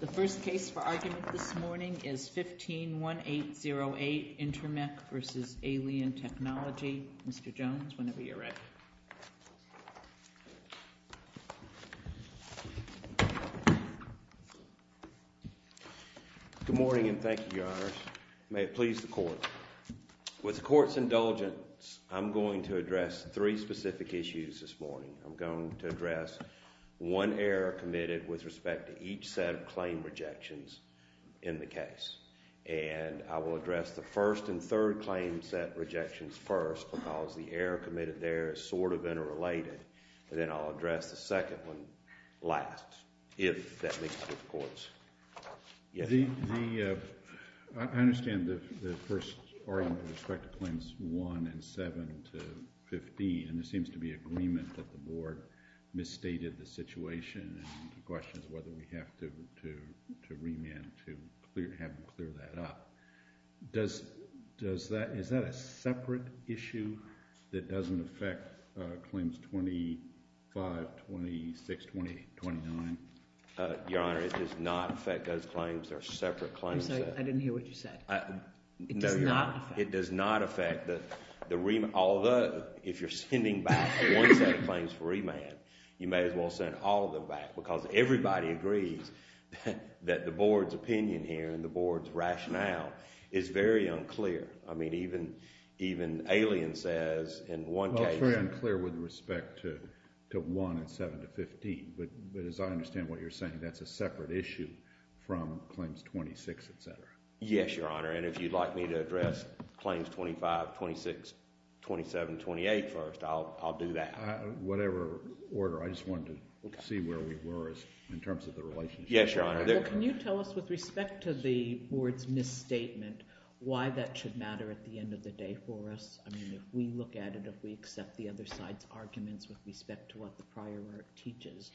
The first case for argument this morning is 15-1808 Intermec v. Alien Technology. Mr. Jones, whenever you're ready. Good morning and thank you, Your Honors. May it please the Court. With the Court's indulgence, I'm going to address three specific issues this morning to address one error committed with respect to each set of claim rejections in the case. And I will address the first and third claim set rejections first because the error committed there is sort of interrelated. And then I'll address the second one last if that makes it to the Court's. I understand the first argument with respect to claims 1 and 7 to 15, and there seems to be agreement that the Board misstated the situation, and the question is whether we have to remand to have them clear that up. Is that a separate issue that doesn't affect claims 25, 26, 28, 29? Your Honor, it does not affect those claims. They're separate claims. I'm sorry, I didn't hear what you said. It does not affect those claims. If you're sending back one set of claims for remand, you may as well send all of them back because everybody agrees that the Board's opinion here and the Board's rationale is very unclear. I mean, even Alien says in one case... It's very unclear with respect to 1 and 7 to 15, but as I understand what you're saying, that's a separate issue from claims 25, 26, 27, 28 first. I'll do that. Whatever order. I just wanted to see where we were in terms of the relationship. Yes, Your Honor. Well, can you tell us with respect to the Board's misstatement why that should matter at the end of the day for us? I mean, if we look at it, if we accept the other side's arguments with respect to what the prior work teaches,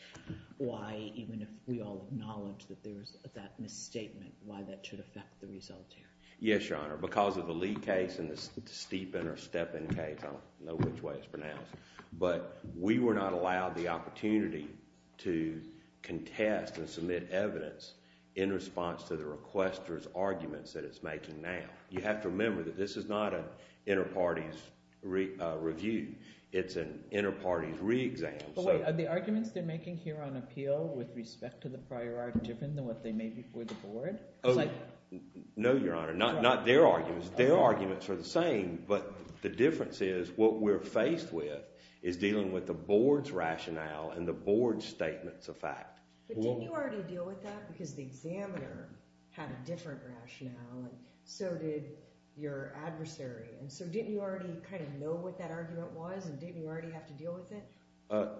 why, even if we all acknowledge that there's that misstatement, why that should affect the result here? Yes, Your Honor. Because of the Lee case and the Steepen or Steppen case, I don't know which way it's pronounced, but we were not allowed the opportunity to contest and submit evidence in response to the requester's arguments that it's making now. You have to remember that this is not an inter-parties review. It's an inter-parties re-exam. But wait, are the arguments they're making here on appeal with respect to the Board? No, Your Honor. Not their arguments. Their arguments are the same, but the difference is what we're faced with is dealing with the Board's rationale and the Board's statements of fact. But didn't you already deal with that? Because the examiner had a different rationale and so did your adversary. And so didn't you already kind of know what that argument was and didn't you already have to deal with it?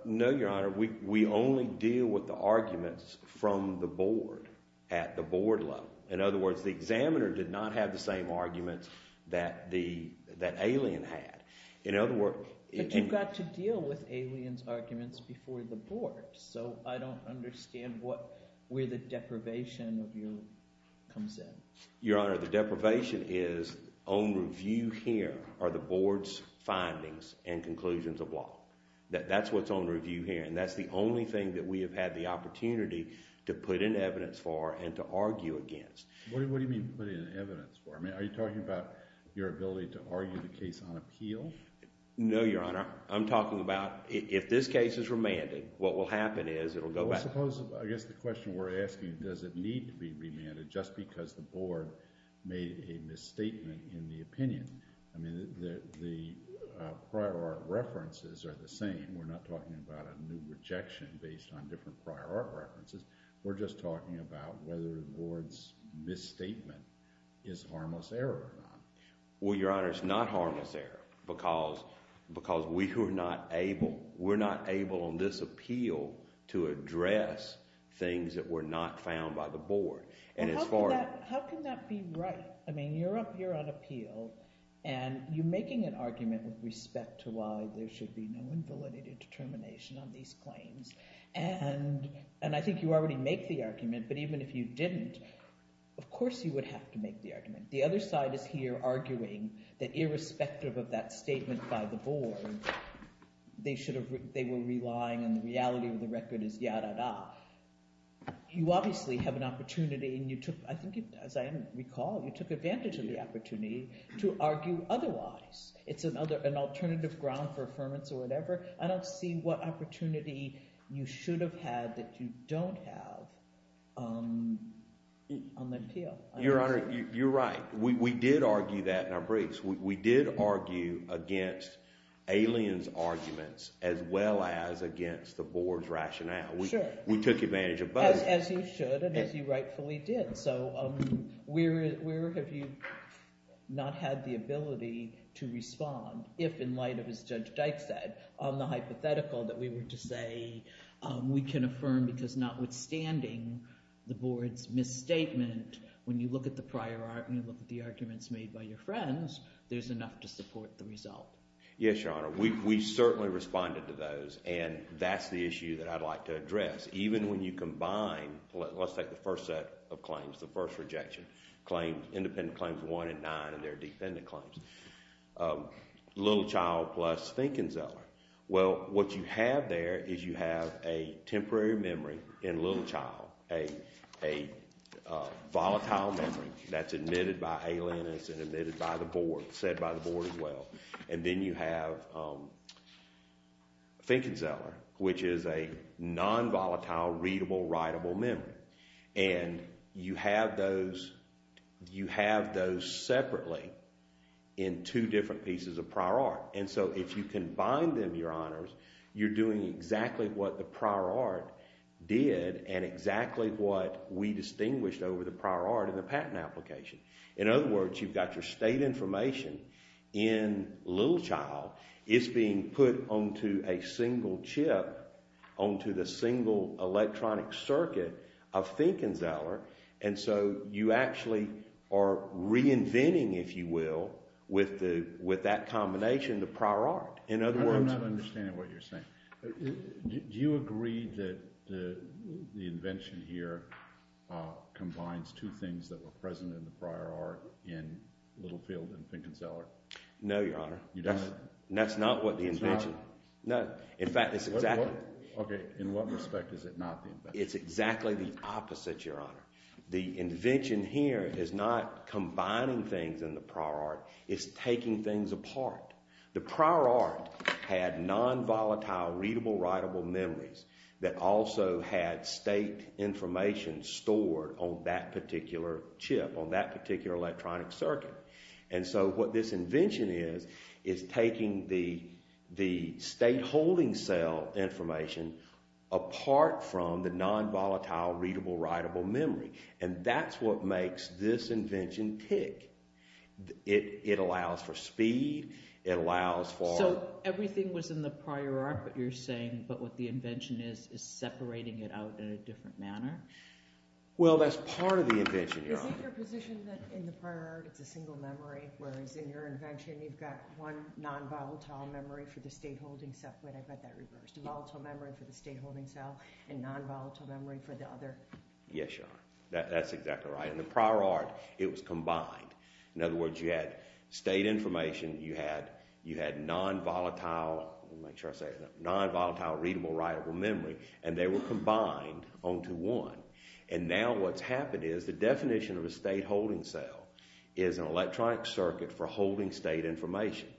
No, Your Honor. We only deal with the arguments from the Board at the Board level. In other words, the examiner did not have the same arguments that Alien had. But you've got to deal with Alien's arguments before the Board, so I don't understand where the deprivation comes in. Your Honor, the deprivation is on review here are the Board's findings and conclusions of law. That's what's on review here and that's the only thing that we have had the opportunity to put in evidence for and to argue against. What do you mean put in evidence for? I mean, are you talking about your ability to argue the case on appeal? No, Your Honor. I'm talking about if this case is remanded, what will happen is it will go back. I guess the question we're asking, does it need to be remanded just because the Board made a misstatement in the opinion? I mean, the prior art references are the same. We're not talking about a new rejection based on different prior art references. We're just talking about whether the Board's misstatement is harmless error or not. Well, Your Honor, it's not harmless error because we were not able, we're not able on this appeal to address things that were not found by the Board on that appeal and you're making an argument with respect to why there should be no invalidated determination on these claims and I think you already make the argument, but even if you didn't, of course you would have to make the argument. The other side is here arguing that irrespective of that statement by the Board, they should have, they were relying on the reality of the record as ya-da-da. You obviously have an opportunity and you took, as I recall, you took advantage of the opportunity to argue otherwise. It's an alternative ground for affirmance or whatever. I don't see what opportunity you should have had that you don't have on the appeal. Your Honor, you're right. We did argue that in our briefs. We did argue against alien's arguments as well as against the Board's rationale. Sure. We took advantage of both. As you should and as you rightfully did. So where have you not had the ability to respond if in light of, as Judge Dyke said, the hypothetical that we were to say we can affirm because notwithstanding the Board's misstatement, when you look at the prior argument, when you look at the arguments made by your friends, there's enough to support the result. Yes, Your Honor. We certainly responded to those and that's the issue that I'd like to address. Even when you combine, let's take the first set of claims, the first rejection, claim, independent claims one and nine and their defendant claims. Little Child plus Fink and Zeller. Well, what you have there is you have a temporary memory in Little Child, a volatile memory that's admitted by alienists and admitted by the Board, said by the Board as well. And then you have Fink and Zeller, which is a non-volatile, readable, writable memory. And you have those separately in two different pieces of prior art. And so if you combine them, Your Honors, you're doing exactly what the prior art did and exactly what we distinguished over the prior art in the patent application. In other words, you've got your data information in Little Child. It's being put onto a single chip, onto the single electronic circuit of Fink and Zeller. And so you actually are reinventing, if you will, with that combination, the prior art. I'm not understanding what you're saying. Do you agree that the invention here combines two things that were present in the prior art in Little Field and Fink and Zeller? No, Your Honor. That's not what the invention. No. In fact, it's exactly. Okay. In what respect is it not the invention? It's exactly the opposite, Your Honor. The invention here is not combining things in the prior art. It's taking things apart. The state information stored on that particular chip, on that particular electronic circuit. And so what this invention is, is taking the state holding cell information apart from the non-volatile readable, writable memory. And that's what makes this invention tick. It allows for speed. It allows for. So everything was in the prior art, what you're saying, but what the invention is, is separating it out in a different manner? Well, that's part of the invention, Your Honor. Is it your position that in the prior art, it's a single memory, whereas in your invention, you've got one non-volatile memory for the state holding cell, but I bet that reversed. Volatile memory for the state holding cell and non-volatile memory for the other. Yes, Your Honor. That's exactly right. In the prior art, it was combined. In other words, you had state information, you had non-volatile readable, writable memory, and they were combined onto one. And now what's happened is the definition of a state holding cell is an electronic circuit for holding state information.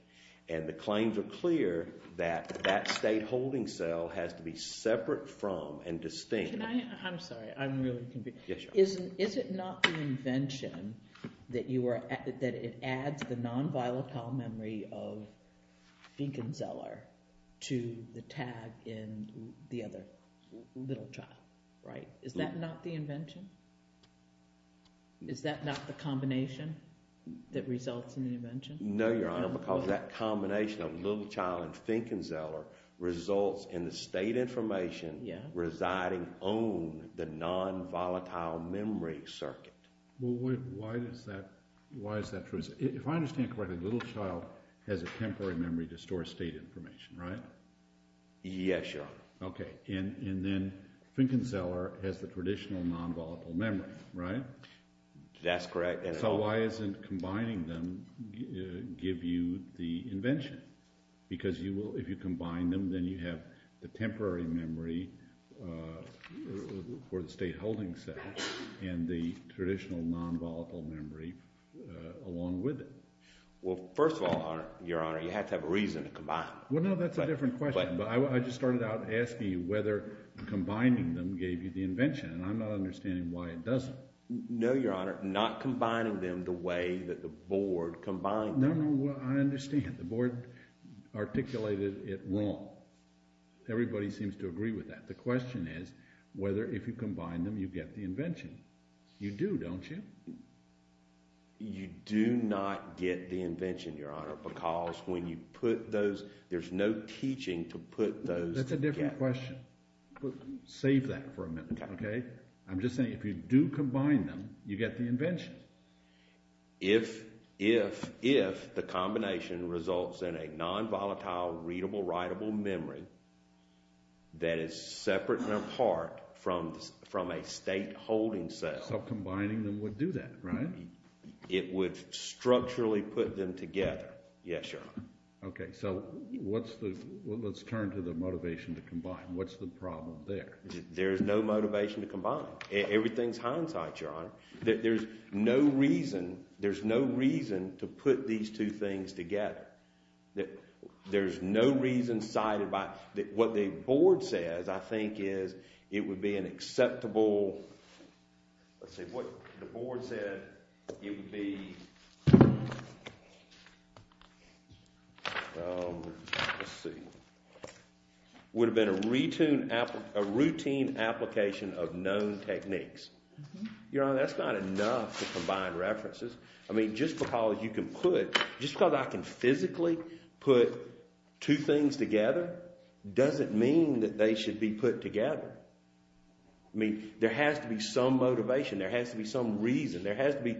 And the claims are clear that that state holding cell has to be separate from and distinct. I'm sorry, I'm really confused. That it adds the non-volatile memory of Finkenzeller to the tag in the other, Little Child, right? Is that not the invention? Is that not the combination that results in the invention? No, Your Honor, because that combination of Little Child and Finkenzeller results in state information residing on the non-volatile memory circuit. Well, why is that true? If I understand correctly, Little Child has a temporary memory to store state information, right? Yes, Your Honor. Okay, and then Finkenzeller has the traditional non-volatile memory, right? That's correct. So why isn't combining them give you the invention? Because if you combine them, then you have the temporary memory for the state holding cell and the traditional non-volatile memory along with it. Well, first of all, Your Honor, you have to have a reason to combine them. Well, no, that's a different question, but I just started out asking you whether combining them gave you the invention, and I'm not understanding why it doesn't. No, Your Honor, not combining them the way that the Board combined them. No, no, I understand. The Board articulated it wrong. Everybody seems to agree with that. The question is whether, if you combine them, you get the invention. You do, don't you? You do not get the invention, Your Honor, because when you put those, there's no teaching to put those together. That's a different question. Save that for a minute, okay? I'm just saying if you do combine them, you get the invention. If the combination results in a non-volatile, readable, writable memory that is separate and apart from a state holding cell. So combining them would do that, right? It would structurally put them together, yes, Your Honor. Okay, so let's turn to the motivation to combine. What's the problem there? There's no motivation to combine. Everything's hindsight, Your Honor. There's no reason, there's no reason to put these two things together. There's no reason cited by, what the Board says, I think, is it would be an acceptable, let's see, what the Board said, it would be, let's Your Honor, that's not enough to combine references. I mean, just because you can put, just because I can physically put two things together doesn't mean that they should be put together. I mean, there has to be some motivation, there has to be some reason, there has to be,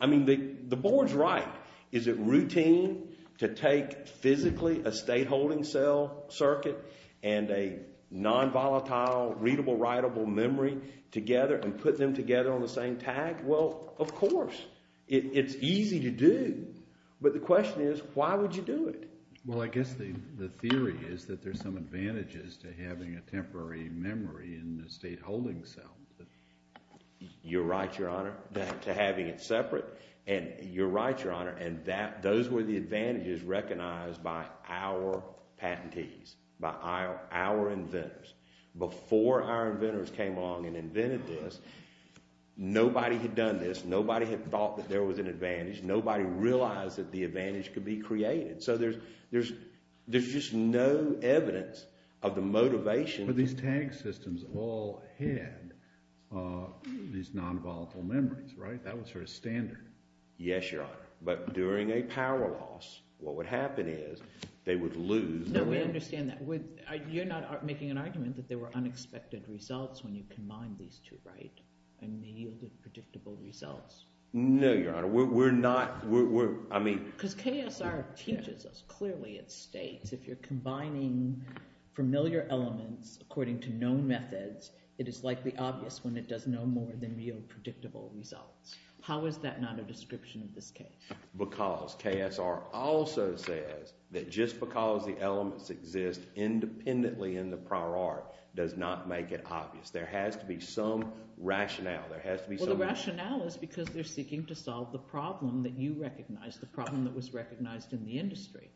I mean, the Board's right. Is it routine to take physically a state holding cell circuit and a non-volatile, readable, writable memory together and put them together on the same tag? Well, of course. It's easy to do. But the question is, why would you do it? Well, I guess the theory is that there's some advantages to having a temporary memory in the state holding cell. You're right, Your Honor, to having it separate. And you're right, Your Honor, and those were the advantages recognized by our patentees, by our inventors. Before our inventors came along and invented this, nobody had done this, nobody had thought that there was an advantage, nobody realized that the advantage could be created. So there's just no evidence of the motivation. But these tag systems all had these non-volatile memories, right? That was sort of standard. Yes, Your Honor. But during a power loss, what would happen is, they would lose. No, we understand that. You're not making an argument that there were unexpected results when you combined these two, right? And yielded predictable results. No, Your Honor, we're not, we're, I mean. Because KSR teaches us clearly, it states, if you're combining familiar elements according to known methods, it is likely obvious when it does no more than yield predictable results. How is that not a description of this case? Because KSR also says that just because the elements exist independently in the prior art does not make it obvious. There has to be some rationale, there has to be some. Well, the rationale is because they're seeking to solve the problem that you recognize, the problem that was recognized in the industry.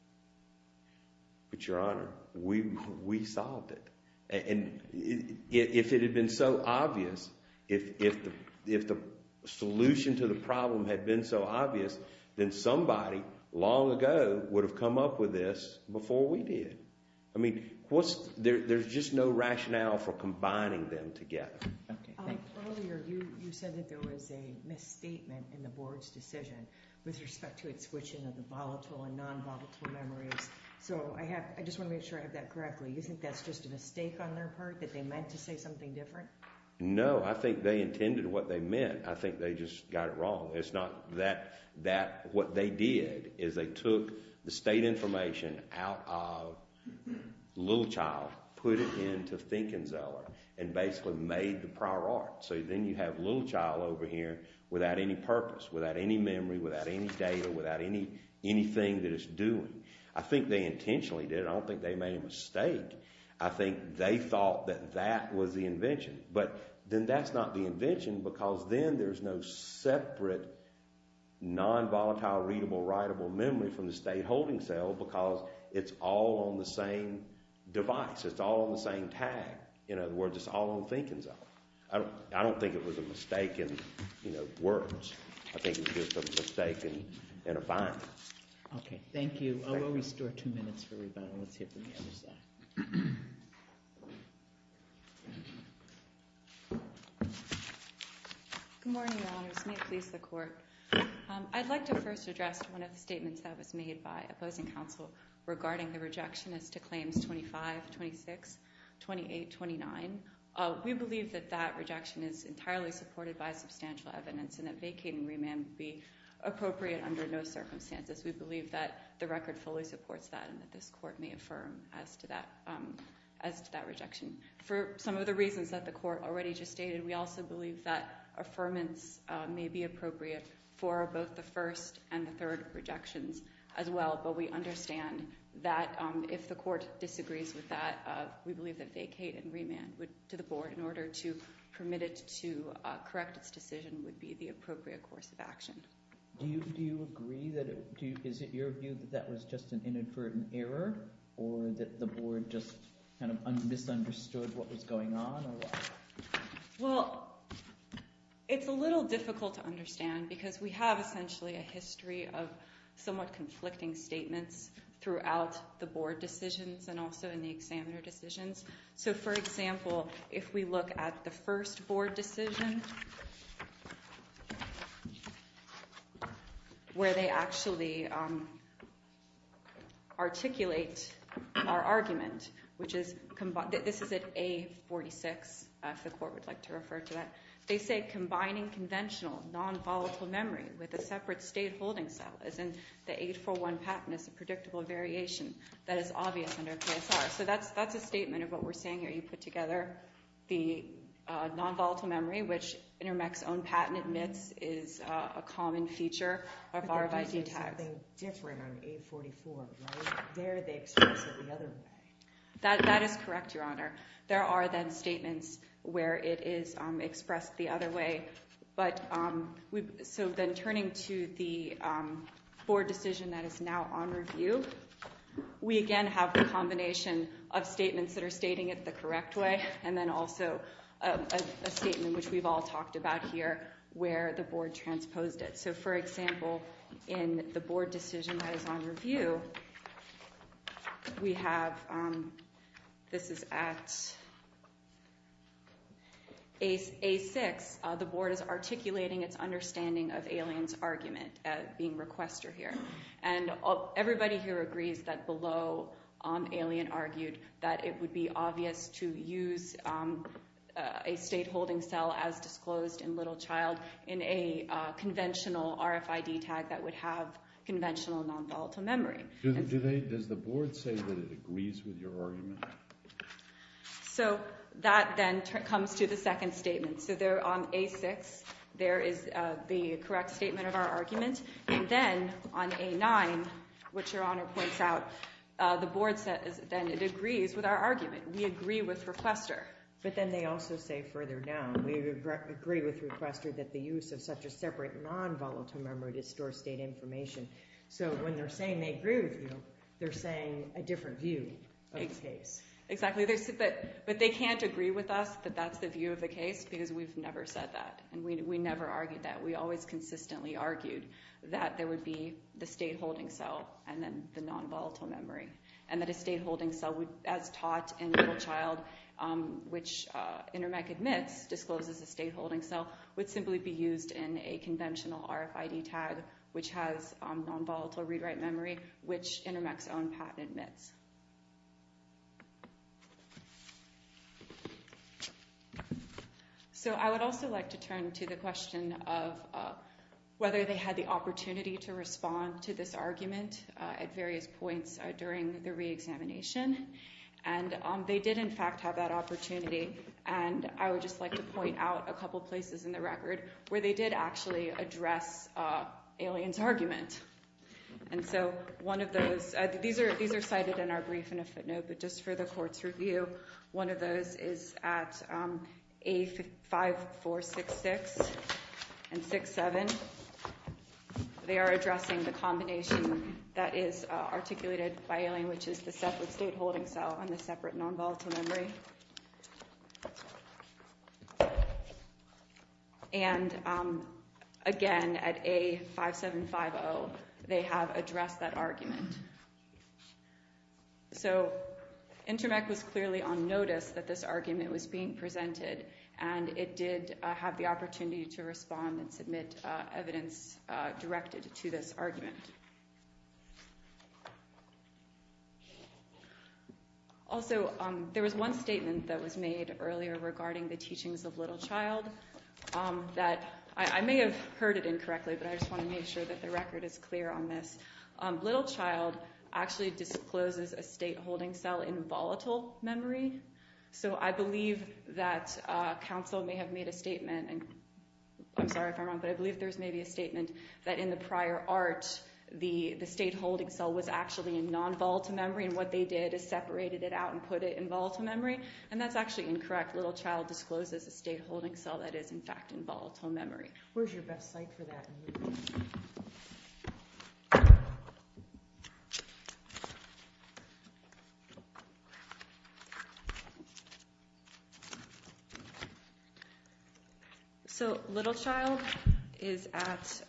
But Your Honor, we solved it. And if it had been so obvious, if the solution to the problem had been so obvious, then somebody long ago would have come up with this before we did. I mean, there's just no rationale for combining them together. Earlier, you said that there was a misstatement in the Board's decision with respect to its switching of the volatile and non-volatile memories. So I have, I just want to make sure I have that correctly. You think that's just a mistake on their part, that they meant to say something different? No, I think they intended what they meant. I think they just got it wrong. It's not that, that, what they did is they took the state information out of Little Child, put it into Think & Zeller, and basically made the prior art. So then you have Little Child over here without any purpose, without any memory, without any data, without anything that it's doing. I think they intentionally did it. I don't think they made a mistake. I think they thought that that was the invention. But then that's not the invention because then there's no separate non-volatile, readable, writable memory from the state holding cell because it's all on the same device. It's all on the same tag. In other words, it's all on Think & Zeller. I don't think it was a mistake in words. I think it was just a mistake and a bind. Okay, thank you. We'll restore two minutes for rebuttal. Let's hear from the other side. Good morning, Your Honors. May it please the Court. I'd like to first address one of the statements that was made by opposing counsel regarding the rejection as to claims 25, 26, 28, 29. We believe that that rejection is entirely supported by substantial evidence and that vacating remand would be appropriate under no circumstances. We believe that the record fully supports that and that this Court may affirm as to that rejection. For some of the reasons that the Court already just stated, we also believe that affirmance may be appropriate for both the first and the third rejections as well. But we understand that if the Court disagrees with that, we believe that vacate and remand to the Board in order to permit it to correct its decision would be the appropriate course of action. Do you agree? Is it your view that that was just an inadvertent error or that the Board just kind of misunderstood what was going on? Well, it's a little difficult to understand because we have essentially a history of somewhat conflicting statements throughout the Board decisions and also in the examiner decisions. So, for example, if we look at the first Board decision where they actually articulate our argument, which is, this is at A46, if the Court would like to refer to that. They say, combining conventional non-volatile memory with a separate state holding cell, as in the 841 patent, is a predictable variation that is obvious under KSR. So that's a statement of what we're saying here. You put together the non-volatile memory, which Intermec's own patent admits is a common feature of RFID tags. But they do say something different on 844, right? There they express it the other way. That is correct, Your Honor. There are then statements where it is expressed the other way. So then turning to the Board decision that is now on review, we again have the combination of statements that are stating it the correct way and then also a statement, which we've all talked about here, where the Board transposed it. So, for example, in the Board decision that is on review, we have, this is at A6, the Board is articulating its understanding of Alien's argument being requester here. And everybody here agrees that below Alien argued that it would be obvious to use a state holding cell as disclosed in Little Child in a conventional RFID tag that would have conventional non-volatile memory. Does the Board say that it agrees with your argument? So that then comes to the second statement. So there on A6, there is the correct statement of our argument. And then on A9, which Your Honor points out, the Board then agrees with our argument. We agree with requester. But then they also say further down, we agree with requester that the use of such a separate non-volatile memory distorts state information. So when they're saying they agree with you, they're saying a different view of the case. Exactly. But they can't agree with us that that's the view of the case because we've never said that. And we never argued that. We always consistently argued that there would be the state holding cell and then the non-volatile memory. And that a state holding cell, as taught in Little Child, which Intermec admits discloses a state holding cell, would simply be used in a conventional RFID tag, which has non-volatile rewrite memory, which Intermec's own patent admits. So I would also like to turn to the question of whether they had the opportunity to respond to this argument at various points during the reexamination. And they did, in fact, have that opportunity. And I would just like to point out a couple places in the record where they did actually address Alien's argument. And so one of those, these are cited in our brief in a footnote. But just for the court's review, one of those is at A5466 and 6-7. They are addressing the combination that is articulated by Alien, which is the separate state holding cell and the separate non-volatile memory. And again, at A5750, they have addressed that argument. So Intermec was clearly on notice that this argument was being presented. And it did have the opportunity to respond and submit evidence directed to this argument. Also, there was one statement that was made earlier regarding the teachings of Littlechild that I may have heard it incorrectly, but I just want to make sure that the record is clear on this. Littlechild actually discloses a state holding cell in volatile memory. So I believe that counsel may have made a statement, and I'm sorry if I'm wrong, but I believe there was maybe a statement that in the prior art, the state holding cell was actually in volatile memory. They just separated it out and put it in volatile memory. And that's actually incorrect. Littlechild discloses a state holding cell that is, in fact, in volatile memory. So Littlechild is at,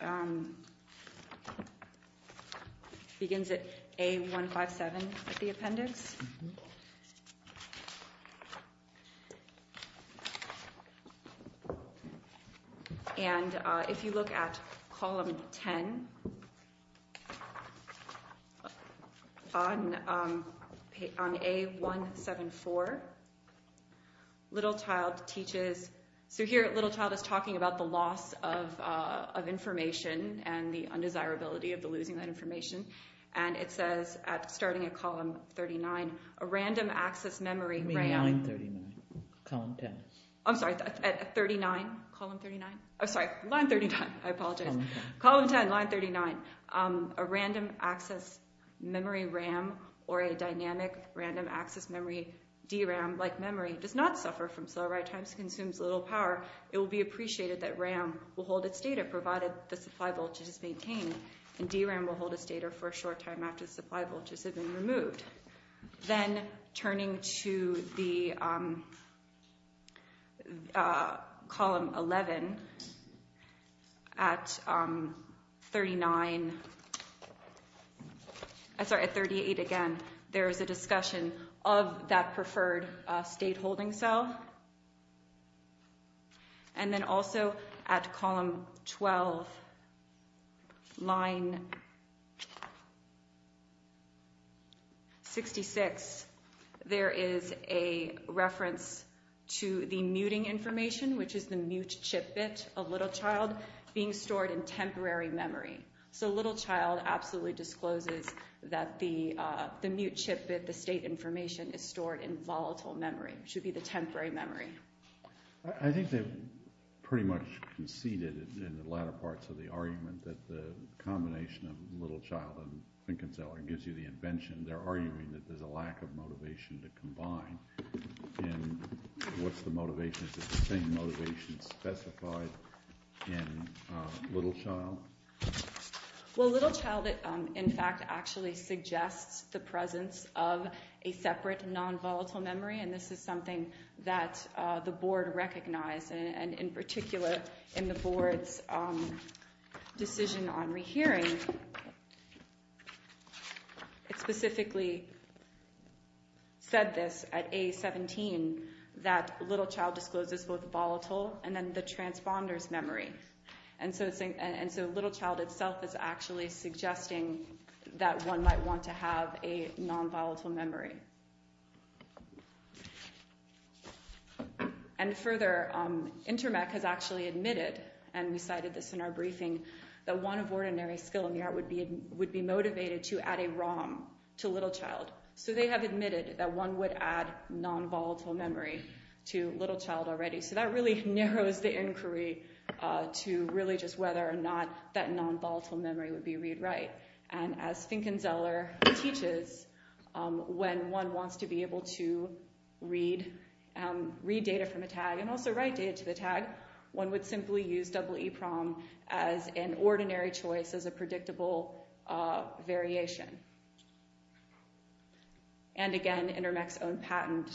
begins at A157 at the appendix. And if you look at column 10 on A174, Littlechild teaches, so here Littlechild is talking about the loss of information and the undesirability of the losing that information. And it says at starting at column 39, a random access memory RAM. I mean line 39, column 10. I'm sorry, at 39, column 39? I'm sorry, line 39, I apologize. Column 10. Column 10, line 39. A random access memory RAM or a dynamic random access memory DRAM like memory does not suffer from slow write times, consumes little power. It will be appreciated that RAM will hold its data provided the supply voltage is maintained, and DRAM will hold its data for a short time after the supply voltages have been removed. Then turning to the column 11, at 39, I'm sorry, at 38 again, there is a discussion of that preferred state holding cell. And then also at column 12, line 66, there is a reference to the muting information, which is the mute chip bit of Littlechild being stored in temporary memory. So Littlechild absolutely discloses that the mute chip bit, the state information, is stored in volatile memory. It should be the temporary memory. I think they've pretty much conceded in the latter parts of the argument that the combination of Littlechild and Finken-Zeller gives you the invention. They're arguing that there's a lack of motivation to combine. And what's the motivation? Is it the same motivation specified in Littlechild? Well, Littlechild in fact actually suggests the presence of a separate non-volatile memory, and this is something that the board recognized, and in particular in the board's decision on rehearing, it specifically said this at A17, that Littlechild discloses both volatile and then the transponder's memory. And so Littlechild itself is actually suggesting that one might want to have a non-volatile memory. And further, Intermec has actually admitted, and we cited this in our briefing, that one of ordinary skill in the art would be motivated to add a ROM to Littlechild. So they have non-volatile memory to Littlechild already. So that really narrows the inquiry to really just whether or not that non-volatile memory would be read-write. And as Finken-Zeller teaches, when one wants to be able to read data from a tag and also write data to the tag, one would simply use EEPROM as an ordinary choice, as a predictable variation. And again, Intermec's own patent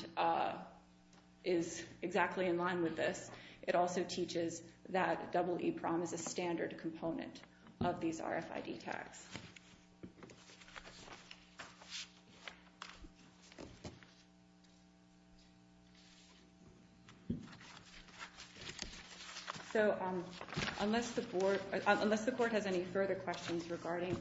is exactly in line with this. It also teaches that EEPROM is a standard component of these RFID tags. So unless the Court has any further questions regarding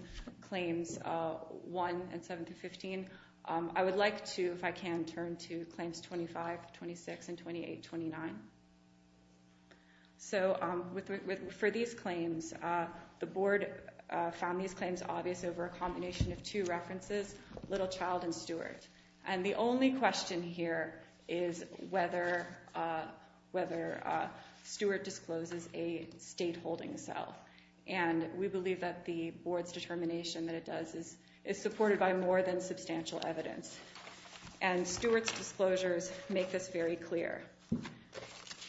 Claims 1 and 7-15, I would like to, if I can, turn to Claims 25-26 and 28-29. So for these claims, the Board found these claims obvious over a combination of two references, Littlechild and Stewart. And the only question here is whether Stewart discloses a state holding cell. And we believe that the Board's and Stewart's disclosures make this very clear.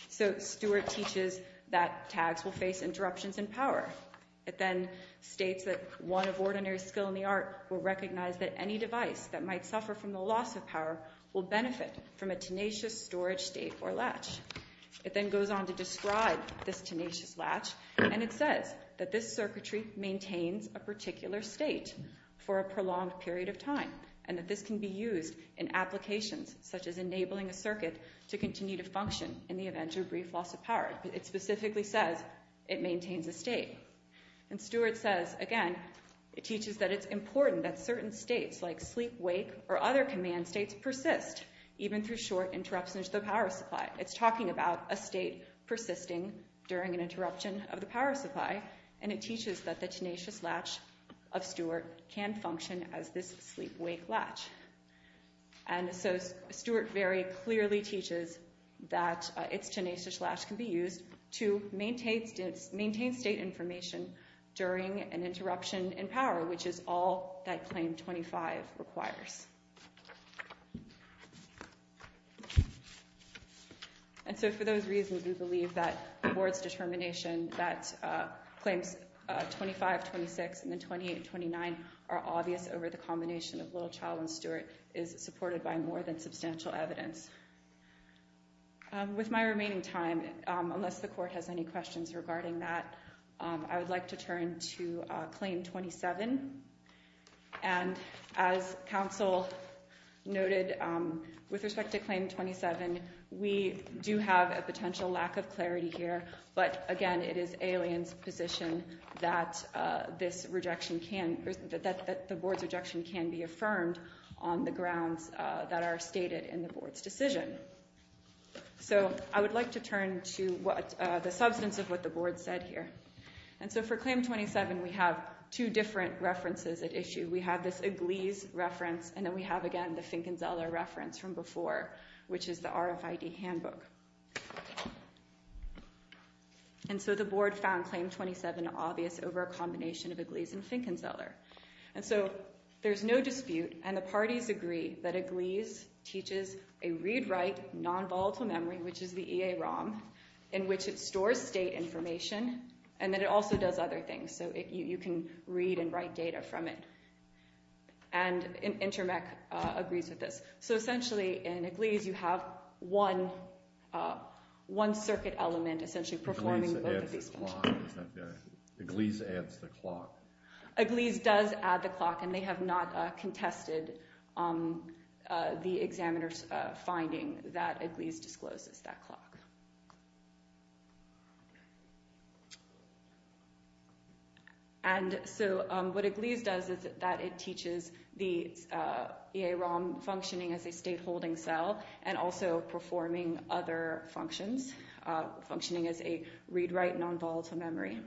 So Stewart teaches that tags will face interruptions in power. It then states that one of ordinary skill in the art will recognize that any device that might suffer from the loss of power will benefit from a tenacious storage state or latch. It then goes on to describe this tenacious latch, and it says that this circuitry maintains a particular state for a prolonged period of time, and that this can be used in applications such as enabling a circuit to continue to function in the event of a brief loss of power. It specifically says it maintains a state. And Stewart says, again, it teaches that it's important that certain states like sleep-wake or other command states persist, even through short interruptions to the power supply. It's talking about a state persisting during an interruption of the power supply, and it teaches that the tenacious latch of Stewart can function as this sleep-wake latch. And so Stewart very clearly teaches that its tenacious latch can be used to maintain state information during an interruption in power, which is all that Claim 25 requires. And so for those reasons, Claim 25, 26, and then 28 and 29 are obvious over the combination of Littlechild and Stewart, is supported by more than substantial evidence. With my remaining time, unless the Court has any questions regarding that, I would like to turn to Claim 27. And as counsel noted with respect to Claim 27, we do have a potential lack of clarity here, but again, it is Alien's position that the Board's rejection can be affirmed on the grounds that are stated in the Board's decision. So I would like to turn to the substance of what the Board said here. And so for Claim 27, we have two different references at issue. We have this Iglese reference, and then we have, again, the Finkenzeller reference from before, which is the RFID handbook. And so the Board found Claim 27 obvious over a combination of Iglese and Finkenzeller. And so there's no dispute, and the parties agree, that Iglese teaches a read-write nonvolatile memory, which is the EAROM, in which it stores state information, and then it also does other things. So you can read and write data from it. And Intermec agrees with this. So essentially, in Iglese, you have one circuit element essentially performing both of these functions. Iglese adds the clock. Iglese does add the clock, and they have not contested the examiner's finding that Iglese discloses that clock. And so what Iglese does is that it teaches the EAROM functioning as a state-holding cell and also performing other functions, functioning as a read-write nonvolatile memory.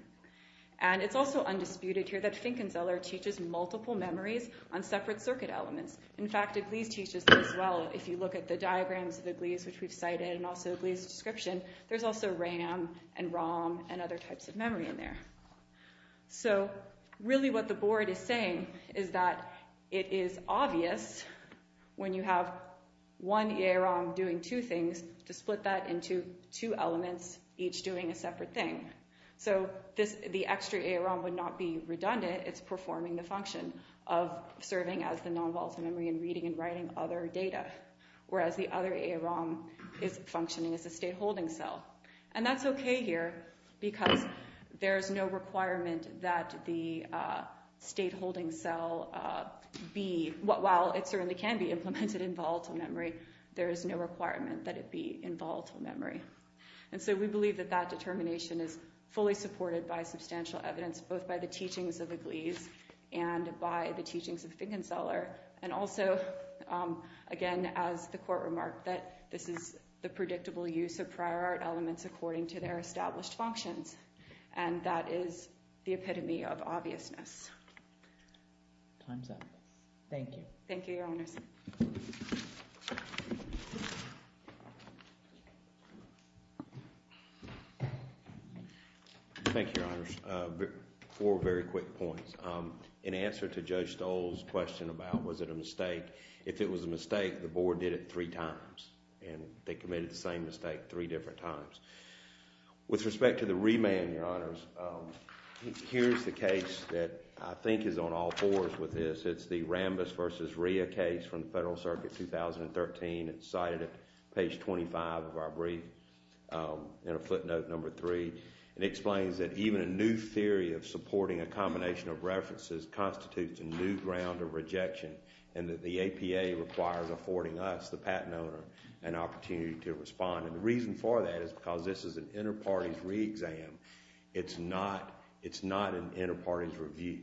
And it's also undisputed here that Finkenzeller teaches multiple memories on separate circuit elements. In fact, Iglese teaches that as well. If you look at the diagrams of Iglese, which we've cited, and also Iglese's description, there's also RAM and ROM and other types of memory in there. So really what the board is saying is that it is obvious when you have one EAROM doing two things to split that into two elements, each doing a separate thing. So the extra EAROM would not be redundant. It's performing the function of serving as the nonvolatile memory and reading and writing other data, whereas the other EAROM is functioning as a state-holding cell. And that's okay here, because there is no requirement that the state-holding cell be, while it certainly can be implemented in volatile memory, there is no requirement that it be in volatile memory. And so we believe that that determination is fully supported by substantial evidence, both by the teachings of Iglese and by the use of prior art elements according to their established functions. And that is the epitome of obviousness. Time's up. Thank you. Thank you, Your Honors. Thank you, Your Honors. Four very quick points. In answer to Judge Stoll's question about was it a mistake, if it was a mistake, the board did it three times. And they committed the same mistake three different times. With respect to the remand, Your Honors, here's the case that I think is on all fours with this. It's the Rambis v. Rhea case from the Federal Circuit 2013. It's cited at page 25 of our brief, in a footnote number three. It explains that even a new theory of supporting a combination of references constitutes a new ground of rejection, and that the APA requires affording us, the patent owner, an opportunity to respond. And the reason for that is because this is an inter-parties re-exam. It's not an inter-parties review.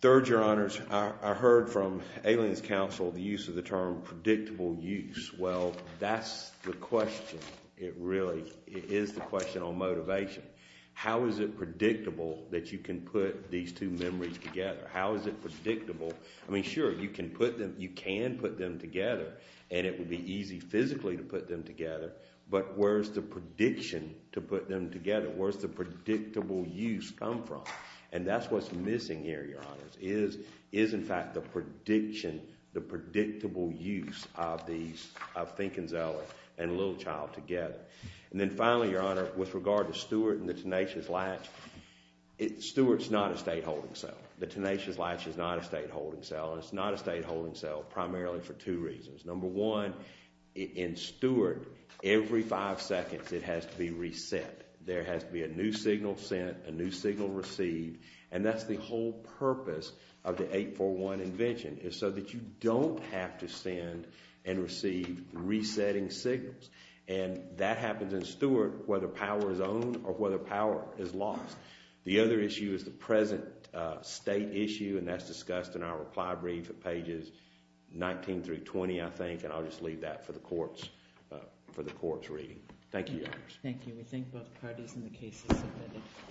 Third, Your Honors, I heard from Aliens Counsel the use of the term predictable use. Well, that's the question. It really is the question on motivation. How is it predictable that you can put these two memories together? How is it predictable? I mean, sure, you can put them together, and it would be easy physically to put them together, but where's the prediction to put them together? Where's the predictable use come from? And that's what's missing here, Your Honors, is in fact the prediction, the predictable use of these, of Fink and Zeller and Littlechild together. And then finally, Your Honor, with regard to Stewart and the Tenacious Latch, Stewart's not a state holding cell. The Tenacious Latch is not a state holding cell, and it's not a state holding cell primarily for two reasons. Number one, in Stewart, every five seconds it has to be reset. There has to be a new signal sent, a new signal received, and that's the whole purpose of the 841 invention is so that you don't have to send and receive resetting signals. And that happens in Stewart whether power is owned or whether power is lost. The other issue is the present state issue, and that's discussed in our reply brief at pages 19 through 20, I think, and I'll just leave that for the court's reading. Thank you, Your Honors. Thank you. We thank both parties and the cases submitted.